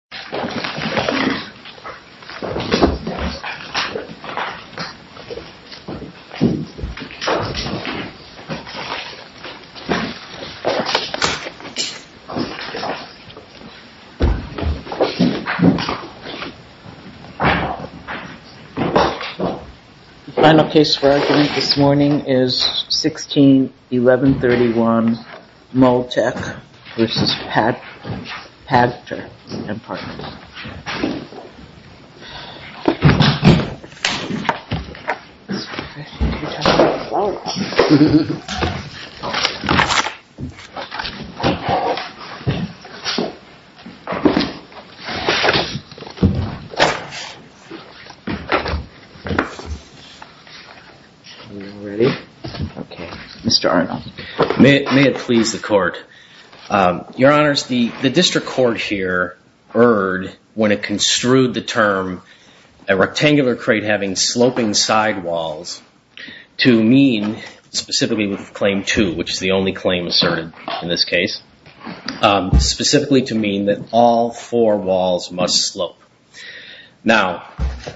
Mouldtec, Inc. v. Pagter & Partners Mouldtec, Inc. v. Pagter & Partners when it construed the term a rectangular crate having sloping side walls to mean, specifically with Claim 2, which is the only claim asserted in this case, specifically to mean that all four walls must slope. Now,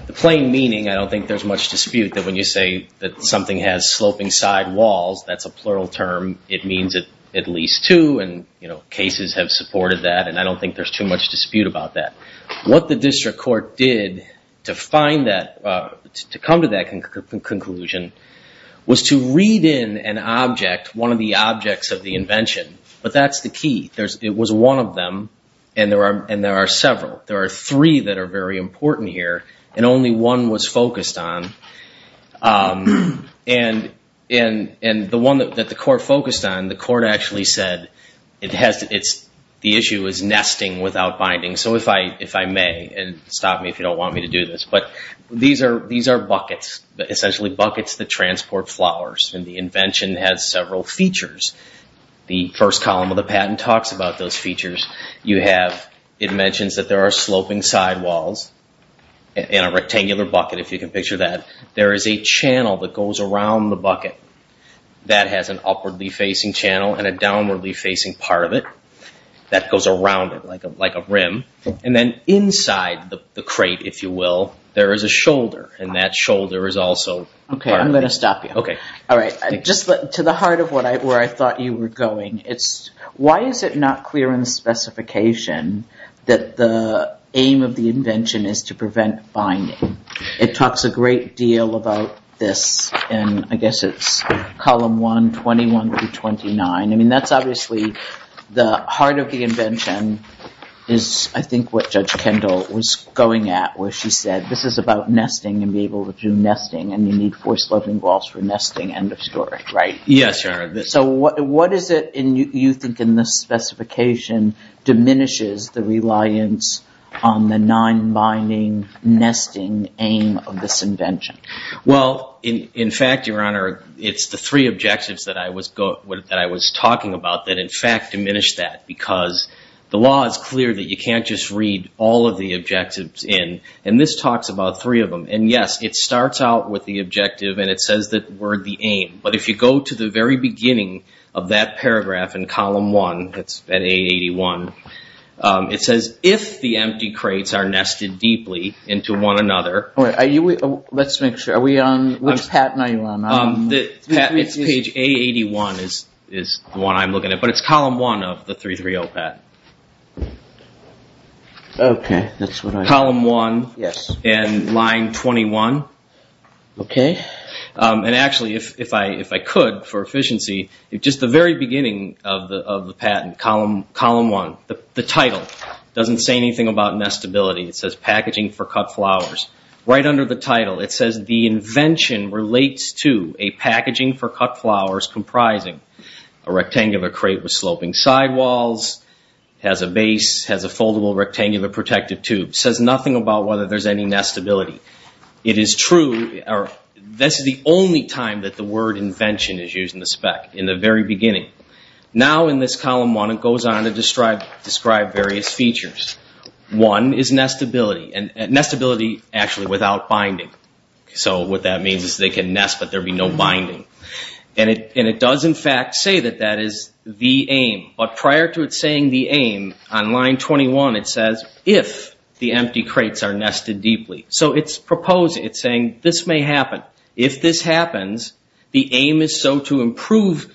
the plain meaning, I don't think there's much dispute that when you say that something has sloping side walls, that's a plural term, it means at least two and cases have supported that and I don't think there's too much dispute about that. What the district court did to find that, to come to that conclusion, was to read in an object, one of the objects of the invention, but that's the key. It was one of them and there are several. There are three that are very important here and only one was focused on and the one that the court focused on, the court actually said, the issue is nesting without binding, so if I may, and stop me if you don't want me to do this, but these are buckets, essentially buckets that transport flowers and the invention has several features. The first column of the patent talks about those features. It mentions that there are a channel that goes around the bucket that has an upwardly facing channel and a downwardly facing part of it that goes around it like a rim and then inside the crate, if you will, there is a shoulder and that shoulder is also part of it. Okay, I'm going to stop you. Just to the heart of where I thought you were going, why is it not clear in the specification that the aim of the invention is to prevent binding? It talks a great deal about this and I guess it's column one, 21 through 29. I mean, that's obviously the heart of the invention is I think what Judge Kendall was going at where she said, this is about nesting and be able to do nesting and you need four sloping walls for nesting, end of story, right? Yes, Your Honor. So what is it in you think in this specification diminishes the reliance on the nine binding nesting aim of this invention? Well, in fact, Your Honor, it's the three objectives that I was talking about that in fact diminish that because the law is clear that you can't just read all of the objectives in and this talks about three of them. And yes, it starts out with the objective and it says that we're the aim. But if you go to the very beginning of that paragraph in A81, it says, if the empty crates are nested deeply into one another. Let's make sure, which patent are you on? It's page A81 is the one I'm looking at, but it's column one of the 330 patent. Okay, that's what I... Column one. Yes. And line 21. Okay. And actually, if I could for efficiency, just the very beginning of the patent, column one, the title doesn't say anything about nestability. It says packaging for cut flowers. Right under the title, it says the invention relates to a packaging for cut flowers comprising a rectangular crate with sloping sidewalls, has a base, has a foldable rectangular protective tube. Says nothing about whether there's any nestability. It is true, this is the only time that the word invention is used in the spec, in the very beginning. Now in this column one, it goes on to describe various features. One is nestability, and nestability actually without binding. So what that means is they can nest but there'd be no binding. And it does in fact say that that is the aim, but prior to it saying the aim, on line 21 it says if the empty crates are nested deeply. So it's proposing, it's saying this may happen. If this happens, the aim is so to improve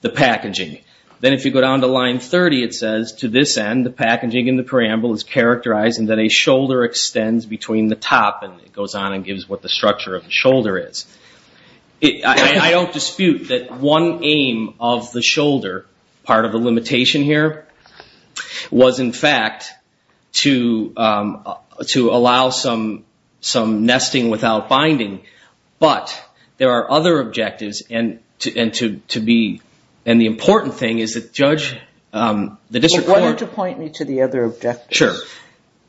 the packaging. Then if you go down to line 30, it says to this end, the packaging in the paramble is characterizing that a shoulder extends between the top, and it goes on and gives what the structure of the shoulder is. I don't dispute that one aim of the shoulder, part of the limitation here, was in fact to allow some nesting without binding. But there are other objectives, and to be, and the important thing is that Judge, the district court... Why don't you point me to the other objectives? Sure.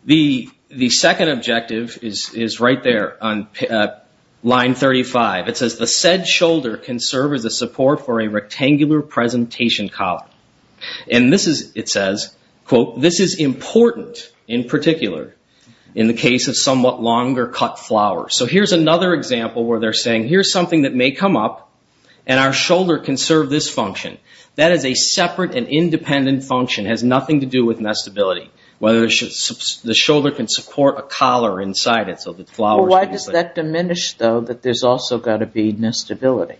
The second objective is right there on line 35. It says the said shoulder can serve as a support for a rectangular presentation column. And this is, it says, quote, this is important in particular in the case of somewhat longer cut flowers. So here's another example where they're saying here's something that may come up, and our shoulder can serve this function. That is a separate and independent function, has nothing to do with nestability, whether the shoulder can support a collar inside it so that flowers... Why does that diminish though that there's also got to be nestability?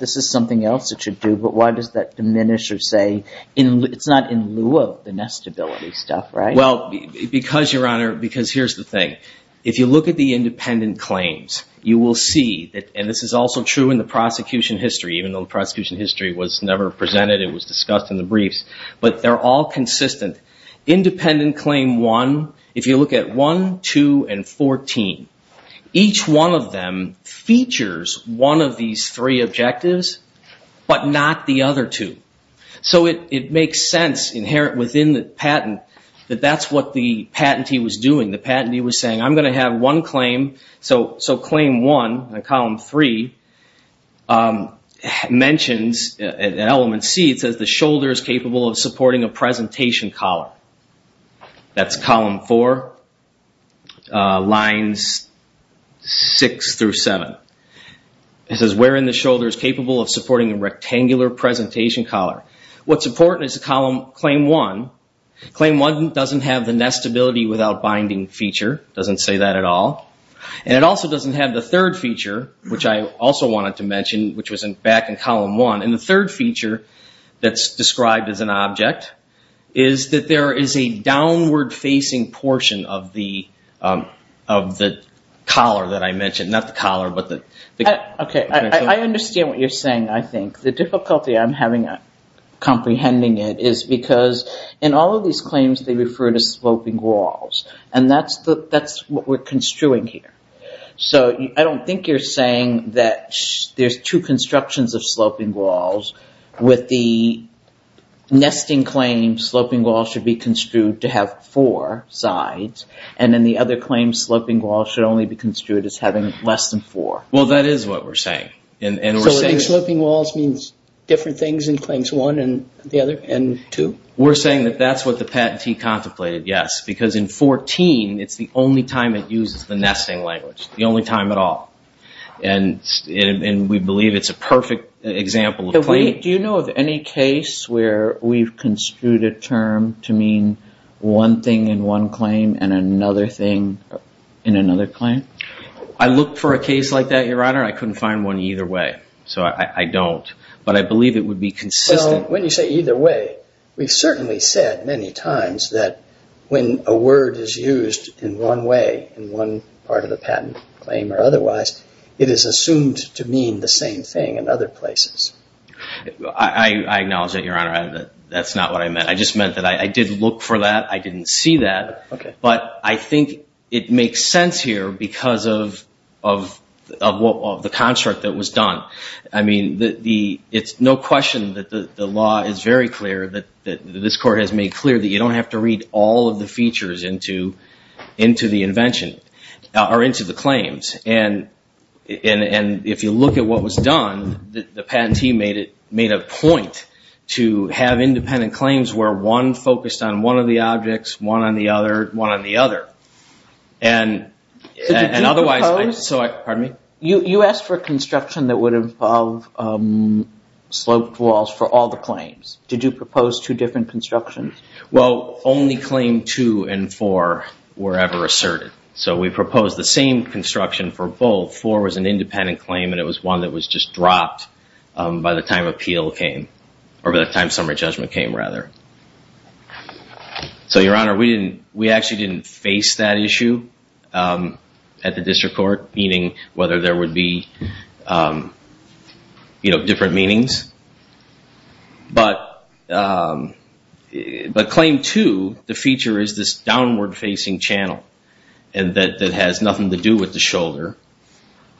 This is something else it should do, but why does that diminish or say it's not in lieu of the nestability stuff, right? Well, because Your Honor, because here's the thing. If you look at the independent claims, you will see that, and this is also true in the prosecution history, even though the prosecution history was never presented, it was discussed in the briefs, but they're all consistent. Independent claim one, if you look at one, two, and fourteen, each one of them features one of these three objectives, but not the other two. So it makes sense inherent within the patent that that's what the patentee was doing. The patentee was saying, I'm going to have one claim, so claim one, column three, mentions in element C, it says the shoulder is capable of supporting a presentation collar. That's column four, lines six through seven. It says, wherein the shoulder is capable of supporting a rectangular presentation collar. What's important is that claim one, claim one doesn't have the nestability without binding feature. It doesn't say that at all. And it also doesn't have the third feature, which I also wanted to mention, which was back in column one. And the third feature that's described as an object is that there is a downward facing portion of the collar that I mentioned. Not the collar, but the- Okay, I understand what you're saying, I think. The difficulty I'm having at comprehending it is because in all of these claims, they refer to sloping walls. And that's what we're construing here. So I don't think you're saying that there's two constructions of sloping walls with the nesting claim, sloping wall should be construed to have four sides. And then the other claim, sloping wall should only be construed as having less than four. Well, that is what we're saying. So sloping walls means different things in claims one and the other and two? We're saying that that's what the patentee contemplated, yes. Because in 14, it's the only time it uses the nesting language, the only time at all. And we believe it's a perfect example of claim- Do you know of any case where we've construed a term to mean one thing in one claim and another thing in another claim? I look for a case like that, Your Honor. I couldn't find one either way. So I don't. But I believe it would be consistent- When you say either way, we've certainly said many times that when a word is used in one way in one part of the patent claim or otherwise, it is assumed to mean the same thing in other places. I acknowledge that, Your Honor. That's not what I meant. I just meant that I did look for that. I didn't see that. But I think it makes sense here because of the construct that was done. I mean, it's no question that the law is very clear, that this Court has made clear that you don't have to read all of the features into the invention or into the claims. And if you look at what was done, the patentee made a point to have independent claim on one of the objects, one on the other, one on the other. You asked for construction that would involve sloped walls for all the claims. Did you propose two different constructions? Well, only claim two and four were ever asserted. So we proposed the same construction for both. Four was an independent claim and it was one that was just dropped by the time appeal came or by the time summary judgment came, rather. So Your Honor, we actually didn't face that issue at the District Court, meaning whether there would be different meanings. But claim two, the feature is this downward-facing channel and that has nothing to do with the shoulder.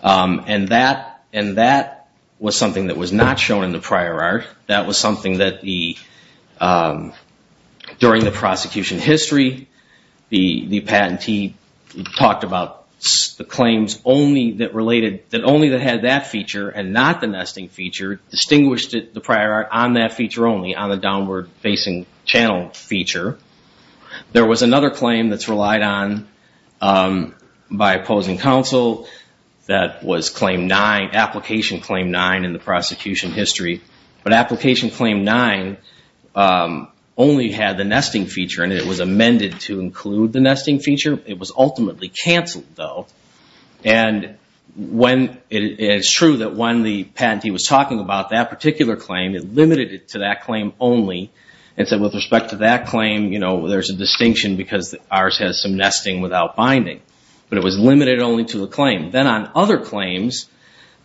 And that was something that was not shown in the prior art. That was something that during the prosecution history, the patentee talked about the claims only that related, that only that had that feature and not the nesting feature, distinguished the prior art on that feature only, on the downward-facing channel feature. There was another claim that's relied on by opposing counsel that was claim nine, application claim nine in the prosecution history. But application claim nine only had the nesting feature and it was amended to include the nesting feature. It was ultimately canceled though. And it's true that when the patentee was talking about that particular claim, it limited it to that claim only. And so with respect to that claim, there's a distinction because ours has some nesting without binding. But it was limited only to the claim. Then on other claims,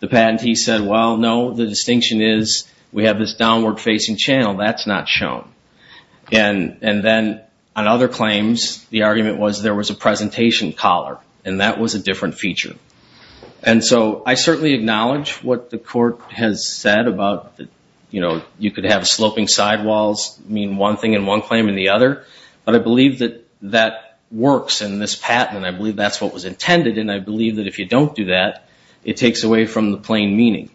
the patentee said, well, no, the distinction is we have this downward-facing channel. That's not shown. And then on other claims, the argument was there was a presentation collar and that was a different feature. And so I certainly acknowledge what the court has said about, you know, you could have sloping sidewalls mean one thing in one claim and the other. But I believe that that works in this patent and I believe that's what was intended. And I believe that if you don't do that, it takes away from the plain meaning.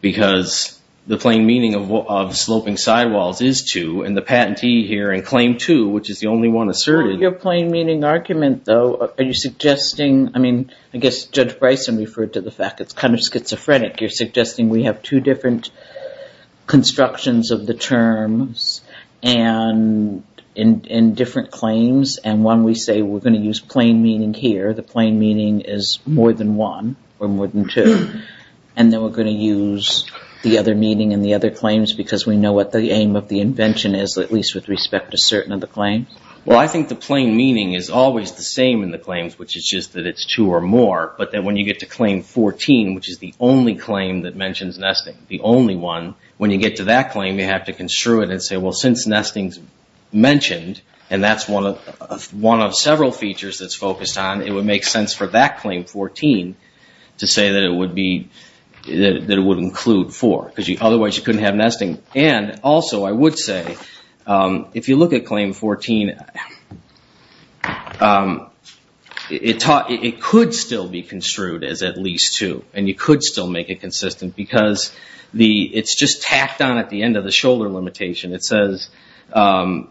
Because the plain meaning of sloping sidewalls is two and the patentee here in claim two, which is the only one asserted. Your plain meaning argument though, are you suggesting, I mean, I guess Judge Bryson referred to the fact it's kind of schizophrenic. You're suggesting we have two different constructions of the terms and in different claims. And when we say we're going to use plain meaning here, the plain meaning is more than one or more than two. And then we're going to use the other meaning in the other claims because we know what the aim of the invention is, at least with respect to certain of the claims? Well, I think the plain meaning is always the same in the claims, which is just that it's two or more. But then when you get to claim 14, which is the only claim that mentions nesting, the only one, when you get to that claim, you have to construe it and say, well, since nesting's mentioned, and that's one of several features that's focused on, it would make sense for that claim 14 to say that it would include four. Because otherwise you couldn't have nesting. And also I would say, if you look at claim 14, it could still be construed as at least two. And you could still make it consistent because it's just tacked on at the end of the shoulder limitation. It says that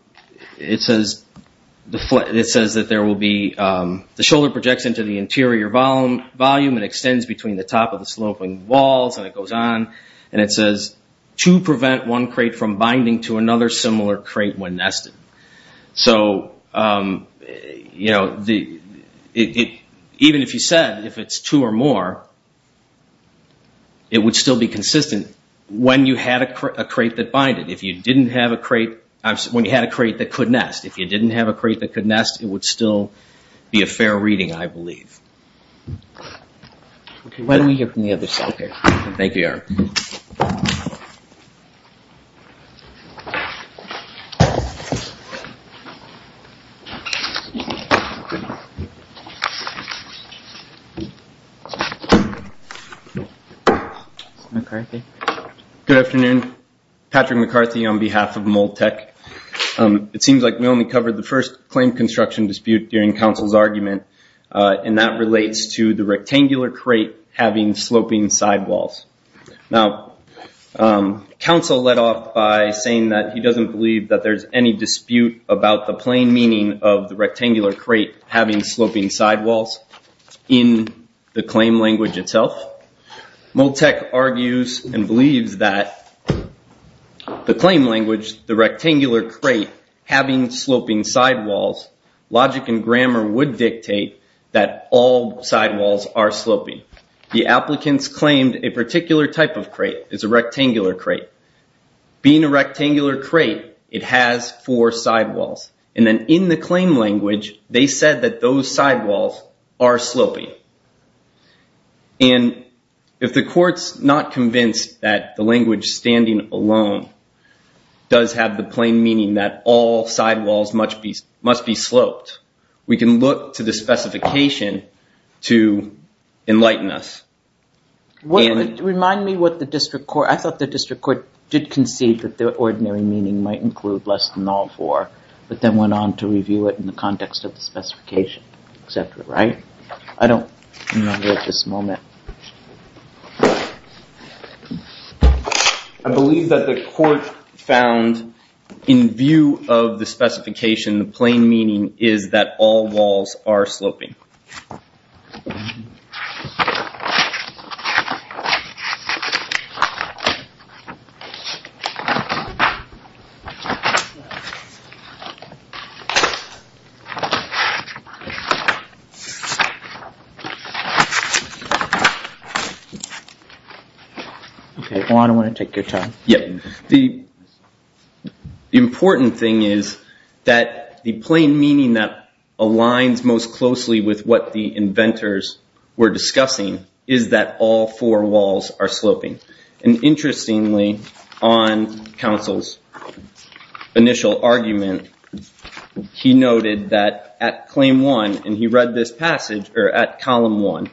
there will be... The shoulder projects into the interior volume and extends between the top of the sloping walls, and it goes on. And it says, to prevent one crate from binding to another similar crate when nested. So even if you said if it's two or more, it would still be consistent when you had a crate that binded. If you didn't have a crate... When you had a crate that could nest. If you didn't have a crate that could nest, it would still be a fair reading, I believe. Good afternoon. Patrick McCarthy on behalf of Mold Tech. It seems like we only covered the first claim construction dispute during counsel's argument, and that relates to the rectangular crate having sloping sidewalls. Now, counsel led off by saying that he doesn't believe that there's any dispute about the plain meaning of the rectangular crate having sloping sidewalls in the claim language itself. Mold Tech argues and believes that the claim having sloping sidewalls, logic and grammar would dictate that all sidewalls are sloping. The applicants claimed a particular type of crate is a rectangular crate. Being a rectangular crate, it has four sidewalls. And then in the claim language, they said that those sidewalls are sloping. And if the court's not convinced that the language standing alone does have the plain meaning that all sidewalls must be sloped, we can look to the specification to enlighten us. Remind me what the district court... I thought the district court did concede that the ordinary meaning might include less than all four, but then went on to review it in the context of the specification, et cetera, right? I believe that the court found in view of the specification, the plain meaning is that all walls are sloping. Okay, I don't want to take your time. The important thing is that the plain meaning that aligns most closely with what the inventors were discussing is that all four walls are sloping. And interestingly, on counsel's initial argument, he noted that at claim one and he read this passage or at column one,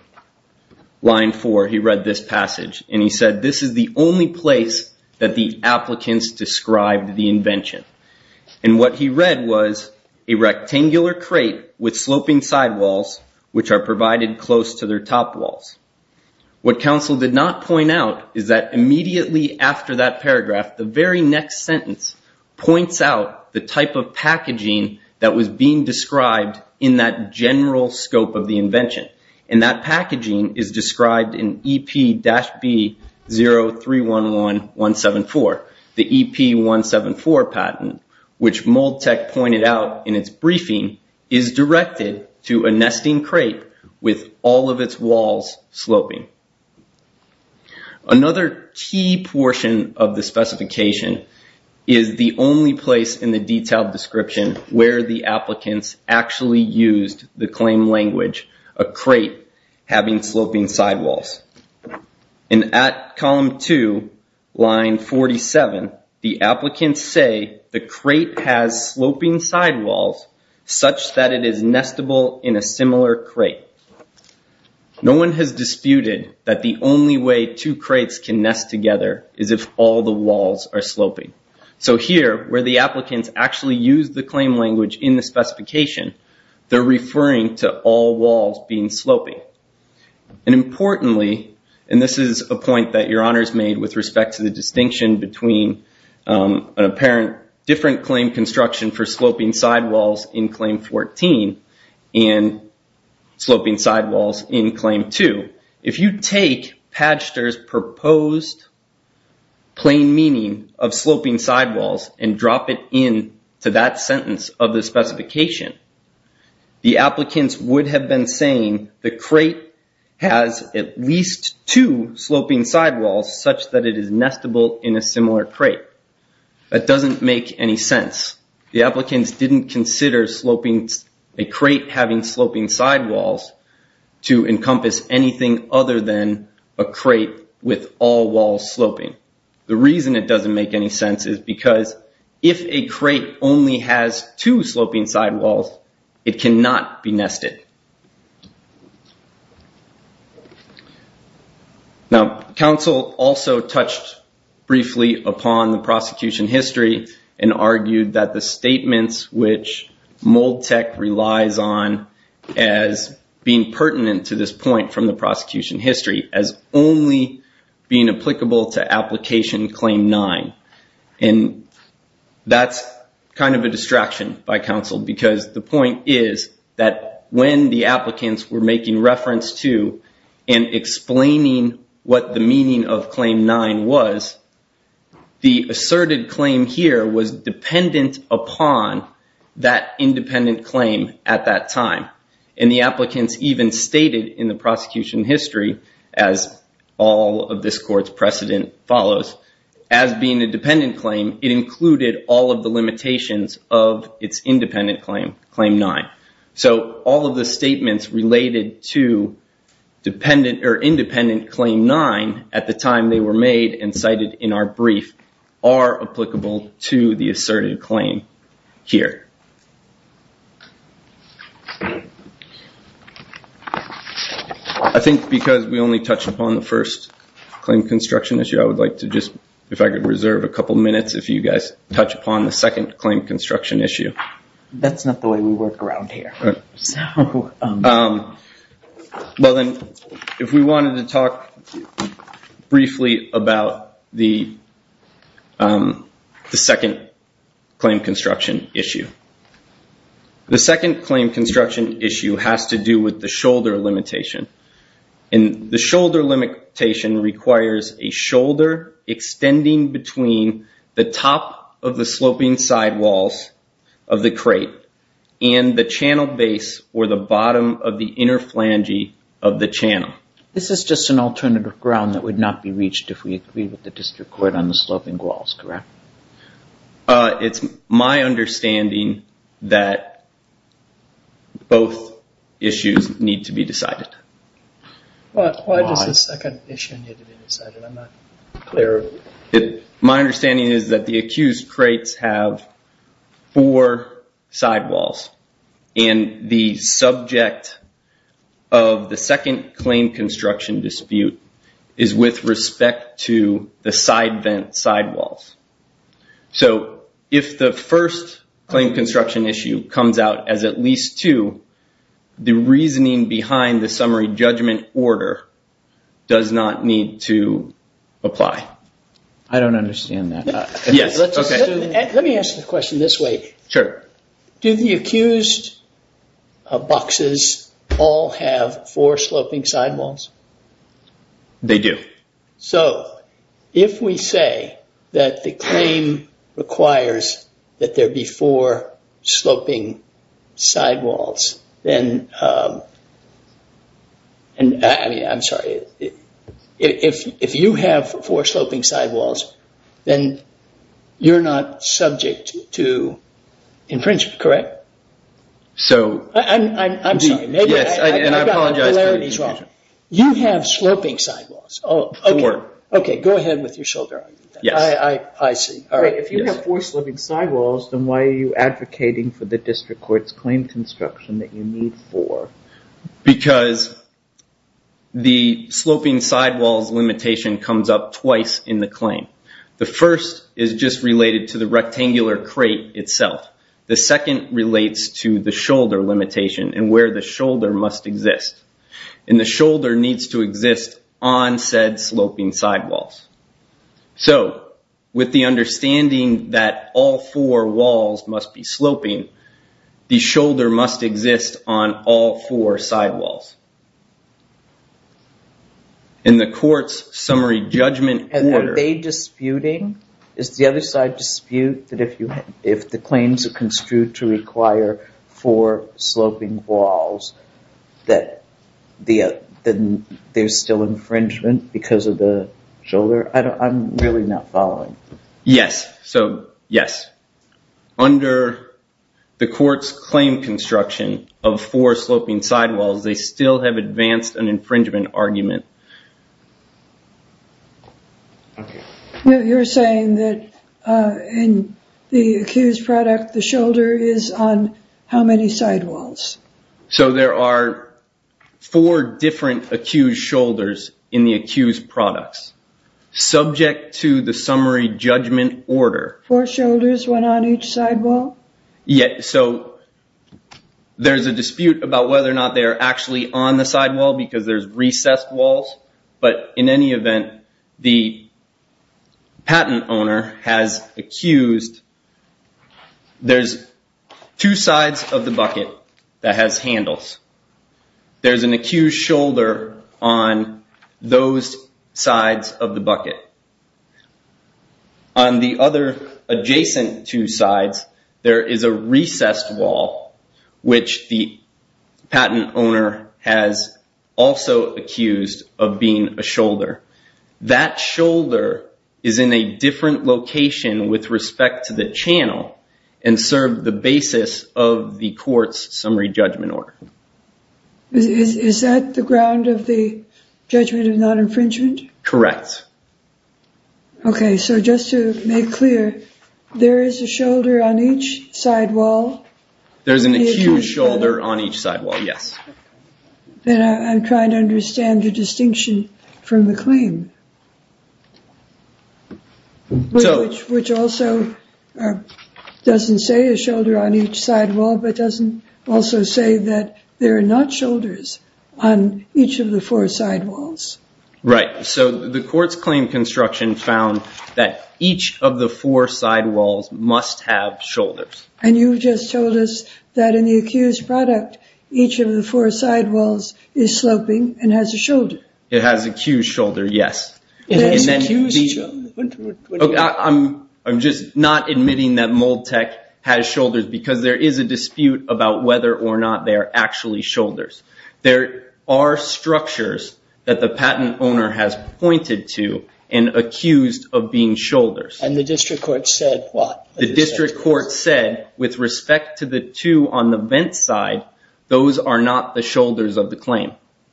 line four, he read this passage and he said, this is the only place that the applicants described the invention. And what he read was a rectangular crate with sloping sidewalls, which are provided close to their top walls. What counsel did not point out is that immediately after that paragraph, the very next sentence points out the type of packaging that was being described in that general scope of the invention. And that packaging is described in EP-B0311174, the EP174 patent, which Moldtec pointed out in its briefing is directed to a nesting crate with all of its walls sloping. Another key portion of the specification is the only place in the detailed description where the applicants actually used the claim language, a crate having sloping sidewalls. And at column two, line 47, the applicants say the crate has sloping sidewalls such that it is nestable in a similar crate. No one has disputed that the only way two crates can nest together is if all the walls are sloping. So here where the applicants actually use the claim language in the specification, they're referring to all walls being sloping. And importantly, and this is a point that your honors made with respect to the distinction between an apparent different claim construction for sloping sidewalls in claim 14 and sloping sidewalls in claim two. If you take Padster's proposed plain meaning of sloping sidewalls and drop it in to that sentence of the specification, the applicants would have been saying the crate has at least two sloping sidewalls such that it is nestable in a similar crate. That doesn't make any sense. The applicants didn't consider a crate having sloping sidewalls to encompass anything other than a crate with all walls sloping. The reason it doesn't make any sense is because if a crate only has two sloping sidewalls, it cannot be nested. Now, counsel also touched briefly upon the prosecution history and argued that the statements which Moldtec relies on as being pertinent to this point from the prosecution history as only being applicable to application claim nine. And that's kind of a distraction by counsel because the point is that when the applicants were making reference to and explaining what the meaning of claim nine was, the asserted claim here was dependent upon that independent claim at that time. And the applicants even stated in the prosecution history, as all of this court's precedent follows, as being a dependent claim, it included all of the limitations of its independent claim, claim nine. So all of the statements related to dependent or independent claim nine at the time they were made and cited in our brief are applicable to the asserted claim here. I think because we only touched upon the first claim construction issue, I would like to just, if I could reserve a couple minutes, if you guys touch upon the second claim construction issue. That's not the way we work around here. Well, then if we wanted to talk briefly about the second claim construction issue. The second claim construction issue has to do with the shoulder limitation. And the shoulder limitation requires a shoulder extending between the top of the sloping side of the crate and the channel base or the bottom of the inner flange of the channel. This is just an alternative ground that would not be reached if we agreed with the district court on the sloping walls, correct? It's my understanding that both issues need to be decided. Why does the second issue need to be decided? I'm not clear. My understanding is that the accused crates have four sidewalls and the subject of the second claim construction dispute is with respect to the side vent sidewalls. If the first claim construction issue comes out as at least two, the reasoning behind the summary judgment order does not need to apply. I don't understand that. Let me ask the question this way. Sure. Do the accused boxes all have four sloping sidewalls? They do. So if we say that the claim requires that there be four sloping sidewalls, then... I'm sorry. If you have four sloping sidewalls, then you're not subject to infringement, correct? So... I'm sorry. Yes, and I apologize for the interruption. You have sloping sidewalls. Four. Okay, go ahead with your shoulder argument. Yes. I see. If you have four sloping sidewalls, then why are you advocating for the district court's claim construction that you need four? Because the sloping sidewalls limitation comes up twice in the claim. The first is just related to the rectangular crate itself. The second relates to the shoulder limitation and where the shoulder must exist. And the shoulder needs to exist on said sloping sidewalls. So with the understanding that all four walls must be sloping, the shoulder must exist on all four sidewalls. In the court's summary judgment order... Are they disputing? Is the other side dispute that if the claims are construed to require four sloping walls, that there's still infringement because of the shoulder? I'm really not following. Yes. So, yes. Under the court's claim construction of four sloping sidewalls, they still have advanced an infringement argument. You're saying that in the accused product, the shoulder is on how many sidewalls? So there are four different accused shoulders in the accused products. Subject to the summary judgment order... Sidewall? So there's a dispute about whether or not they're actually on the sidewall because there's recessed walls. But in any event, the patent owner has accused... There's two sides of the bucket that has handles. On the other adjacent two sides, there is a recessed wall, which the patent owner has also accused of being a shoulder. That shoulder is in a different location with respect to the channel and served the basis of the court's summary judgment order. Is that the ground of the judgment of non-infringement? Correct. Okay. So just to make clear, there is a shoulder on each sidewall? There's an accused shoulder on each sidewall, yes. And I'm trying to understand the distinction from the claim. Which also doesn't say a shoulder on each sidewall, but doesn't also say that there are not shoulders on each of the four sidewalls. Right. So the court's claim construction found that each of the four sidewalls must have shoulders. And you just told us that in the accused product, each of the four sidewalls is sloping and has a shoulder. It has accused shoulder, yes. I'm just not admitting that Moldtec has shoulders because there is a dispute about whether or not they're actually shoulders. There are structures that the patent owner has pointed to and accused of being shoulders. And the district court said what? The district court said with respect to the two on the vent side, those are not the shoulders of the claim.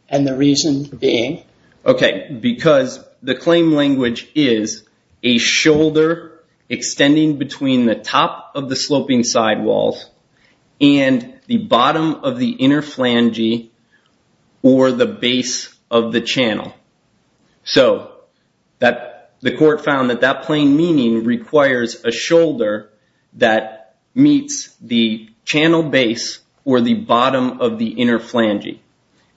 And the reason being? Okay. Because the claim language is a shoulder extending between the top of the sloping sidewalls and the bottom of the inner flange or the base of the channel. So the court found that that plain meaning requires a shoulder that meets the channel base or the bottom of the inner flange.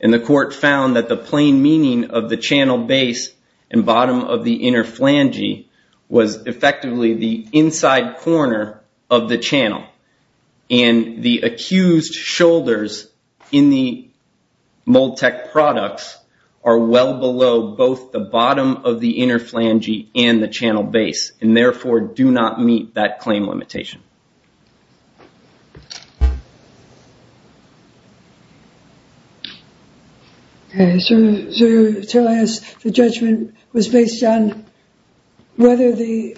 And the court found that the plain meaning of the channel base and bottom of the inner flange was effectively the inside corner of the channel. And the accused shoulders in the Moldtec products are well below both the bottom of the inner flange and the channel base, and therefore do not meet that claim limitation. Okay. So to tell us the judgment was based on whether the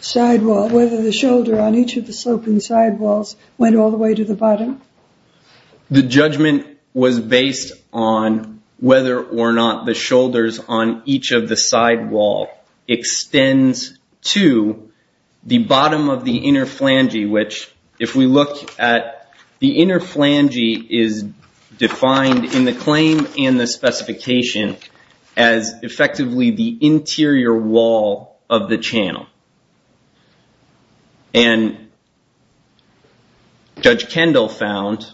sidewall, whether the shoulder on each of the sloping sidewalls went all the way to the bottom? The judgment was based on whether or not the shoulders on each of the sidewall extends to the bottom of the inner flange, which if we look at the inner flange is defined in the claim and the specification as effectively the interior wall of the channel. And Judge Kendall found,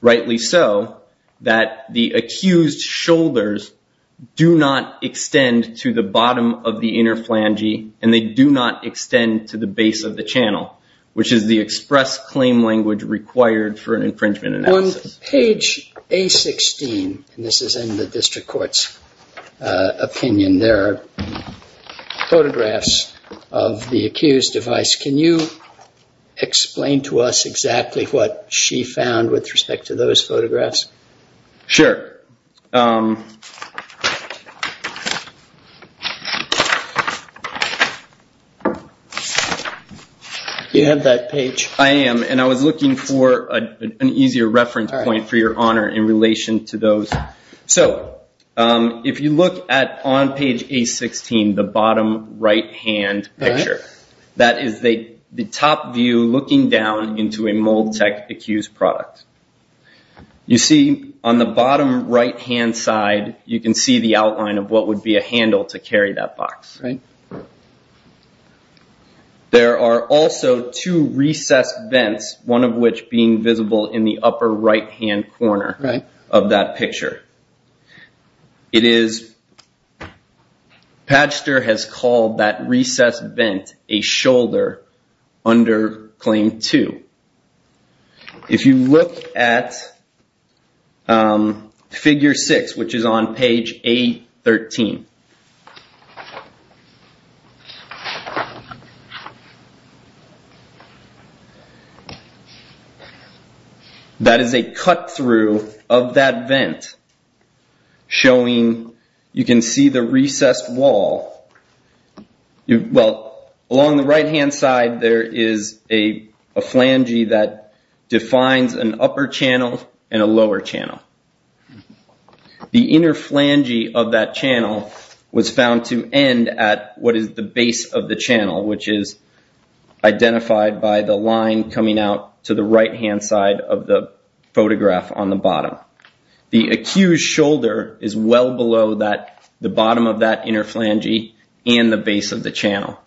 rightly so, that the accused shoulders do not extend to the bottom of the inner flange and they do not extend to the base of the channel, which is the express claim language required for an infringement analysis. On page A-16, and this is in the district court's opinion there, there are photographs of the accused device. Can you explain to us exactly what she found with respect to those photographs? Sure. You have that page? I am, and I was looking for an easier reference point for your honor in relation to those. So if you look at on page A-16, the bottom right-hand picture, that is the top view looking down into a mold tech accused product. You see on the bottom right-hand side, you can see the outline of what would be a handle to carry that box. There are also two recessed vents, one of which being visible in the upper right-hand corner of that picture. Patchster has called that recessed vent a shoulder under claim two. If you look at figure six, which is on page A-13, that is a cut through of that vent showing, you can see the recessed wall. Well, along the right-hand side, there is a flange that defines an upper channel and a lower channel. The inner flange of that channel is the recessed wall. Was found to end at what is the base of the channel, which is identified by the line coming out to the right-hand side of the photograph on the bottom. The accused shoulder is well below the bottom of that inner flange and the base of the channel.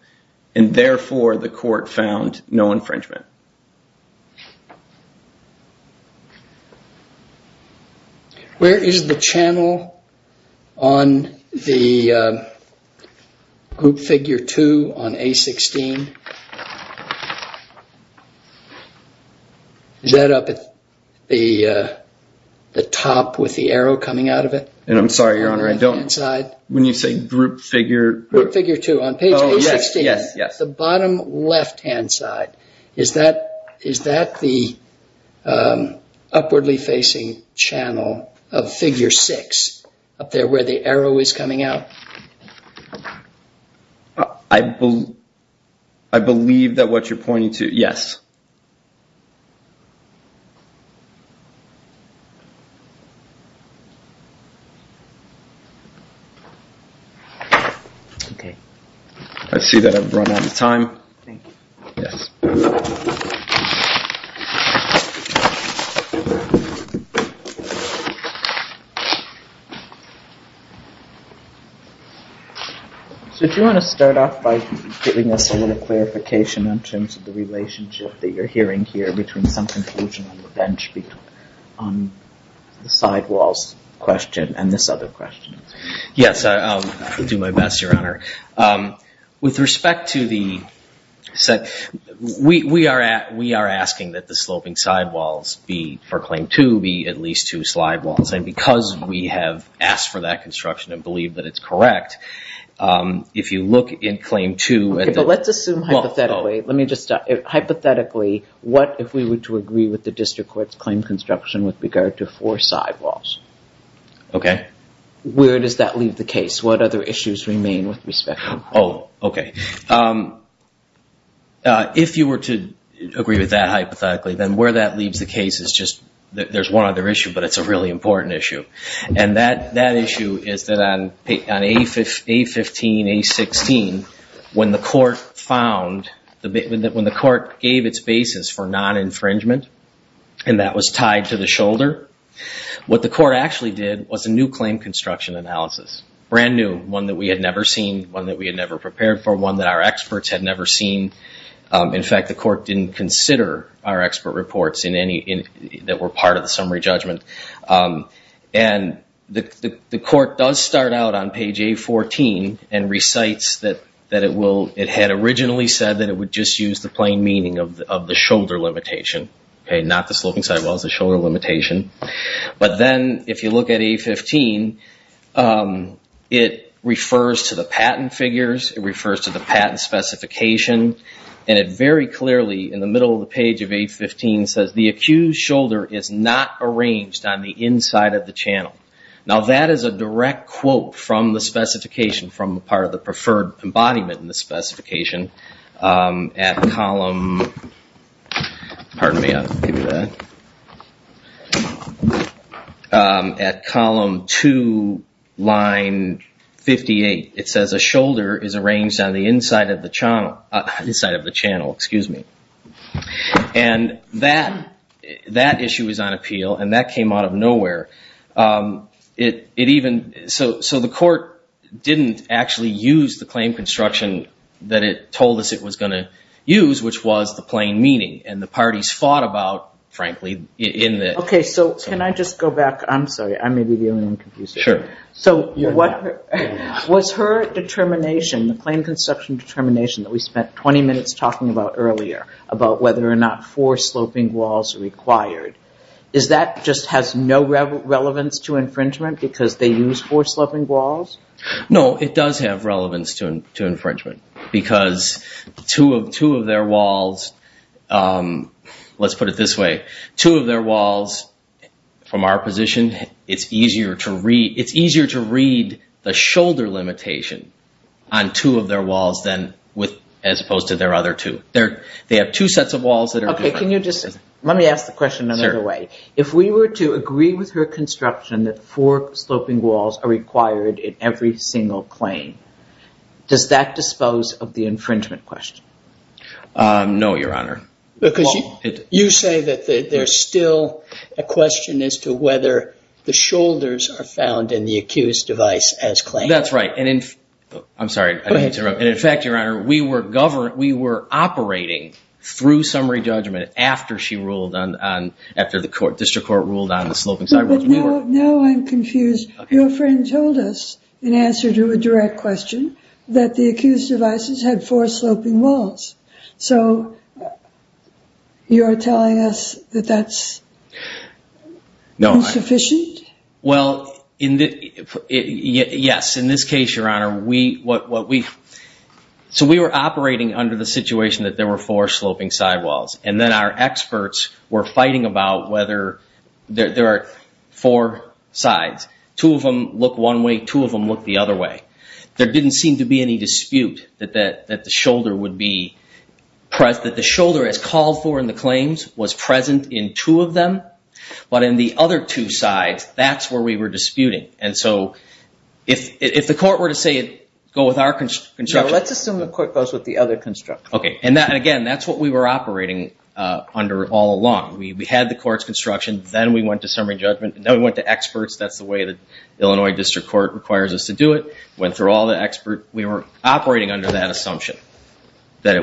And therefore, the court found no infringement. Where is the channel on the group figure two on A-16? Is that up at the top with the arrow coming out of it? And I'm sorry, Your Honor, I don't... When you say group figure... Group figure two on page A-16. Yes, yes. The bottom left-hand side, is that the upwardly facing channel of figure six up there where the arrow is coming out? I believe that what you're pointing to, yes. Okay. I see that I've run out of time. So do you want to start off by giving us a little clarification in terms of the relationship that you're hearing here between some conclusion on the bench on the sidewalls question and this other question? Yes, I'll do my best, Your Honor. With respect to the... We are asking that the sloping sidewalls be, for claim two, be at least two slide walls. And because we have asked for that construction and believe that it's correct, if you look in claim two... But let's assume hypothetically. Let me just start. Hypothetically, what if we were to agree with the district court's claim construction with regard to four sidewalls? Okay. Where does that leave the case? What other issues remain with respect? Oh, okay. If you were to agree with that hypothetically, then where that leaves the case is just... There's one other issue, but it's a really important issue. And that issue is that on A15, A16, when the court found... When the court gave its basis for non-infringement, and that was tied to the shoulder, what the court actually did was a new claim construction analysis. Brand new, one that we had never seen, one that we had never prepared for, one that our experts had never seen. In fact, the court didn't consider our expert reports that were part of the summary judgment. And the court does start out on page A14 and recites that it had originally said that it would just use the plain meaning of the shoulder limitation, okay? Not the sloping sidewalls, the shoulder limitation. But then if you look at A15, it refers to the patent figures. It refers to the patent specification. And it very clearly in the middle of the page of A15 says, the accused shoulder is not arranged on the inside of the channel. Now, that is a direct quote from the specification, from part of the preferred embodiment in the specification at column... Pardon me, I'll give you that. At column 2, line 58, it says a shoulder is arranged on the inside of the channel. And that issue is on appeal, and that came out of nowhere. So the court didn't actually use the claim construction that it told us it was going to and the parties fought about, frankly, in the... Okay, so can I just go back? I'm sorry, I may be the only one confused. Sure. So was her determination, the claim construction determination, that we spent 20 minutes talking about earlier, about whether or not four sloping walls are required, is that just has no relevance to infringement because they use four sloping walls? No, it does have relevance to infringement because two of their walls let's put it this way, two of their walls from our position, it's easier to read the shoulder limitation on two of their walls than with as opposed to their other two. They have two sets of walls that are... Okay, can you just... Let me ask the question another way. If we were to agree with her construction that four sloping walls are required in every single claim, does that dispose of the infringement question? No, Your Honor. You say that there's still a question as to whether the shoulders are found in the accused device as claimed. That's right. I'm sorry, I didn't mean to interrupt. And in fact, Your Honor, we were operating through summary judgment after she ruled on, after the district court ruled on the sloping sidewalks. But now I'm confused. Your friend told us in answer to a direct question that the accused devices had four sloping walls. So you are telling us that that's insufficient? Well, yes. In this case, Your Honor, we... So we were operating under the situation that there were four sloping sidewalls. And then our experts were fighting about whether there are four sides. Two of them look one way, two of them look the other way. There didn't seem to be any dispute that the shoulder would be... That the shoulder as called for in the claims was present in two of them. But in the other two sides, that's where we were disputing. And so if the court were to say, go with our construction... Let's assume the court goes with the other construction. Okay. And again, that's what we were operating under all along. We had the court's construction. Then we went to summary judgment. Then we went to experts. That's the way the Illinois District Court requires us to do it. Went through all the experts. We were operating under that assumption that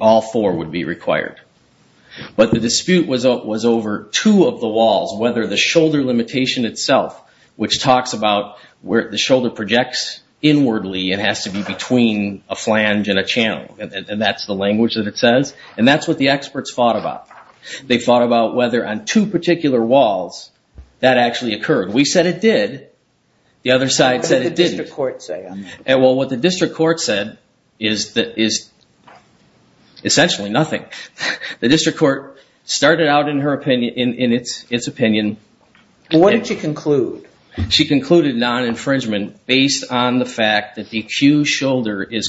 all four would be required. But the dispute was over two of the walls. Whether the shoulder limitation itself, which talks about where the shoulder projects inwardly and has to be between a flange and a channel. And that's the language that it says. And that's what the experts thought about. They thought about whether on two particular walls that actually occurred. We said it did. The other side said it didn't. And well, what the district court said is essentially nothing. The district court started out in its opinion. What did she conclude? She concluded non-infringement based on the fact that the accused shoulder is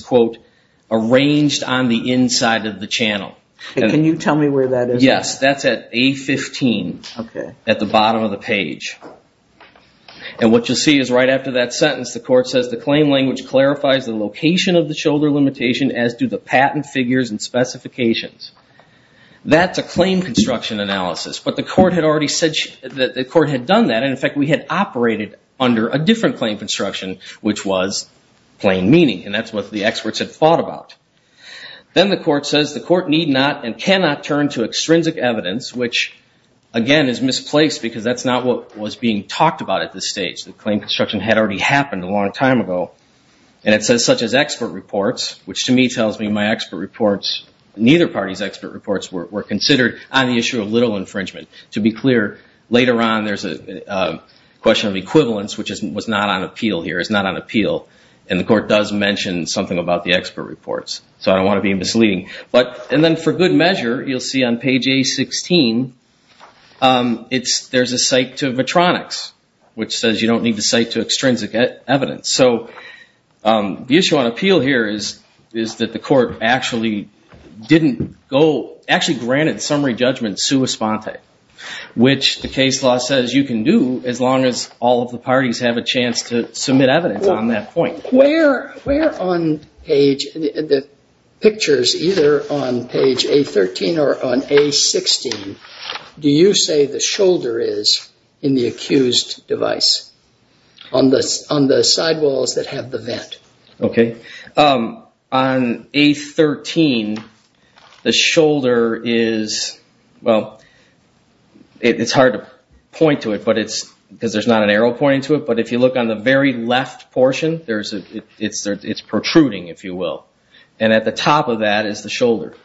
arranged on the inside of the channel. Can you tell me where that is? That's at A15 at the bottom of the page. And what you'll see is right after that sentence, the court says the claim language clarifies the location of the shoulder limitation as do the patent figures and specifications. That's a claim construction analysis. But the court had already said that the court had done that. And in fact, we had operated under a different claim construction, which was plain meaning. And that's what the experts had thought about. Then the court says the court need not and cannot turn to extrinsic evidence, which again is misplaced because that's not what was being talked about at this stage. The claim construction had already happened a long time ago. And it says such as expert reports, which to me tells me my expert reports, neither party's expert reports were considered on the issue of little infringement. To be clear, later on there's a question of equivalence, which was not on appeal here. It's not on appeal. And the court does mention something about the expert reports. So I don't want to be misleading. And then for good measure, you'll see on page A16, there's a cite to Vitronics, which says you don't need to cite to extrinsic evidence. So the issue on appeal here is that the court actually granted summary judgment sua sponte, which the case law says you can do as long as all of the parties have a chance to submit evidence on that point. Where on the pictures, either on page A13 or on A16, do you say the shoulder is in the accused device, on the sidewalls that have the vent? OK. On A13, the shoulder is, well, it's hard to point to it because there's not an arrow pointing to it, but if you look on the very left portion, it's protruding, if you will. And at the top of that is the shoulder,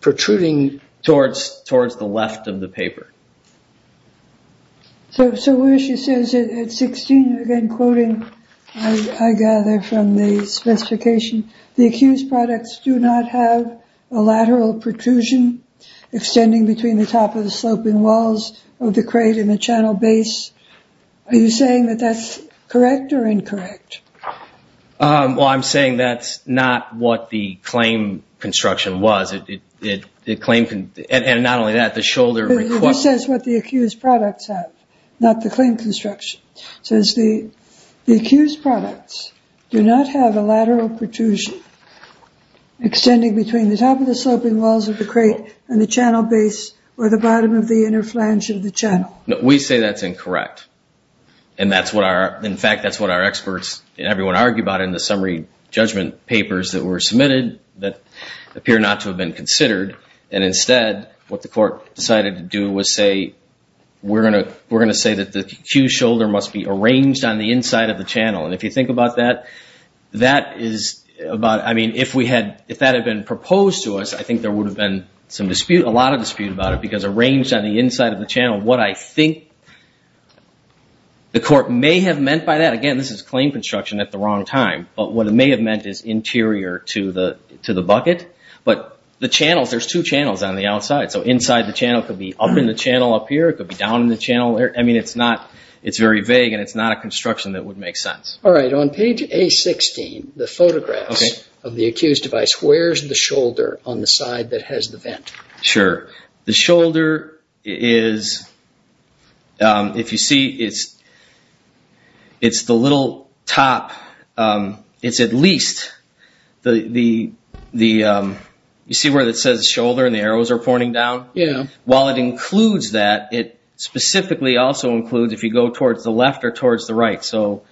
protruding towards the left of the paper. So where she says at 16, again, quoting, I gather from the specification, the accused products do not have a lateral protrusion extending between the top of the sloping walls of the crate and the channel base. Are you saying that that's correct or incorrect? Well, I'm saying that's not what the claim construction was. And not only that, the shoulder request. It says what the accused products have, not the claim construction. So it's the accused products do not have a lateral protrusion extending between the top of the sloping walls of the crate and the channel base or the bottom of the inner flange of the channel. We say that's incorrect. And that's what our, in fact, that's what our experts and everyone argue about in the summary judgment papers that were submitted that appear not to have been considered. And instead, what the court decided to do was say, we're going to say that the accused shoulder must be arranged on the inside of the channel. And if you think about that, that is about, I mean, if that had been proposed to us, I think there would have been some dispute, a lot of dispute about it, because arranged on the inside of the channel, what I think the court may have meant by that, again, this is claim construction at the wrong time, but what it may have meant is interior to the bucket. But the channels, there's two channels on the outside. So inside the channel could be up in the channel up here. It could be down in the channel there. I mean, it's not, it's very vague and it's not a construction that would make sense. All right. On page A-16, the photographs of the accused device, where's the shoulder on the side that has the vent? Sure. The shoulder is, if you see, it's the little top. It's at least the, you see where it says shoulder and the arrows are pointing down? Yeah. While it includes that, it specifically also includes if you go towards the left or towards the right. So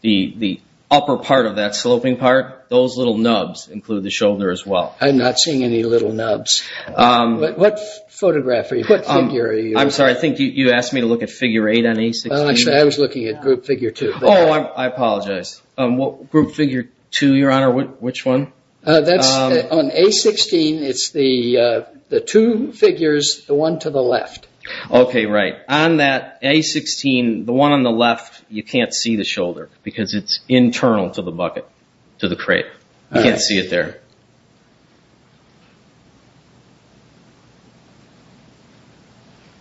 the upper part of that sloping part, those little nubs include the shoulder as well. I'm not seeing any little nubs. What photograph are you, what figure are you? I'm sorry. I think you asked me to look at figure eight on A-16. Actually, I was looking at group figure two. Oh, I apologize. Group figure two, your honor, which one? On A-16, it's the two figures, the one to the left. Okay. Right. On that A-16, the one on the left, you can't see the shoulder because it's internal to the bucket, to the crate. You can't see it there.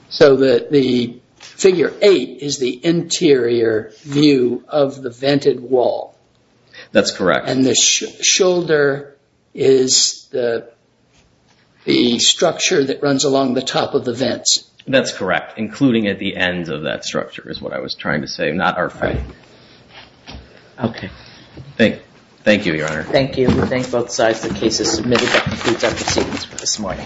So the figure eight is the interior view of the vented wall. That's correct. And the shoulder is the structure that runs along the top of the vents. That's correct. Including at the ends of that structure is what I was trying to say. Not our fight. Okay. Thank you, your honor. Thank you. We thank both sides. The case is submitted. That concludes our proceedings for this morning.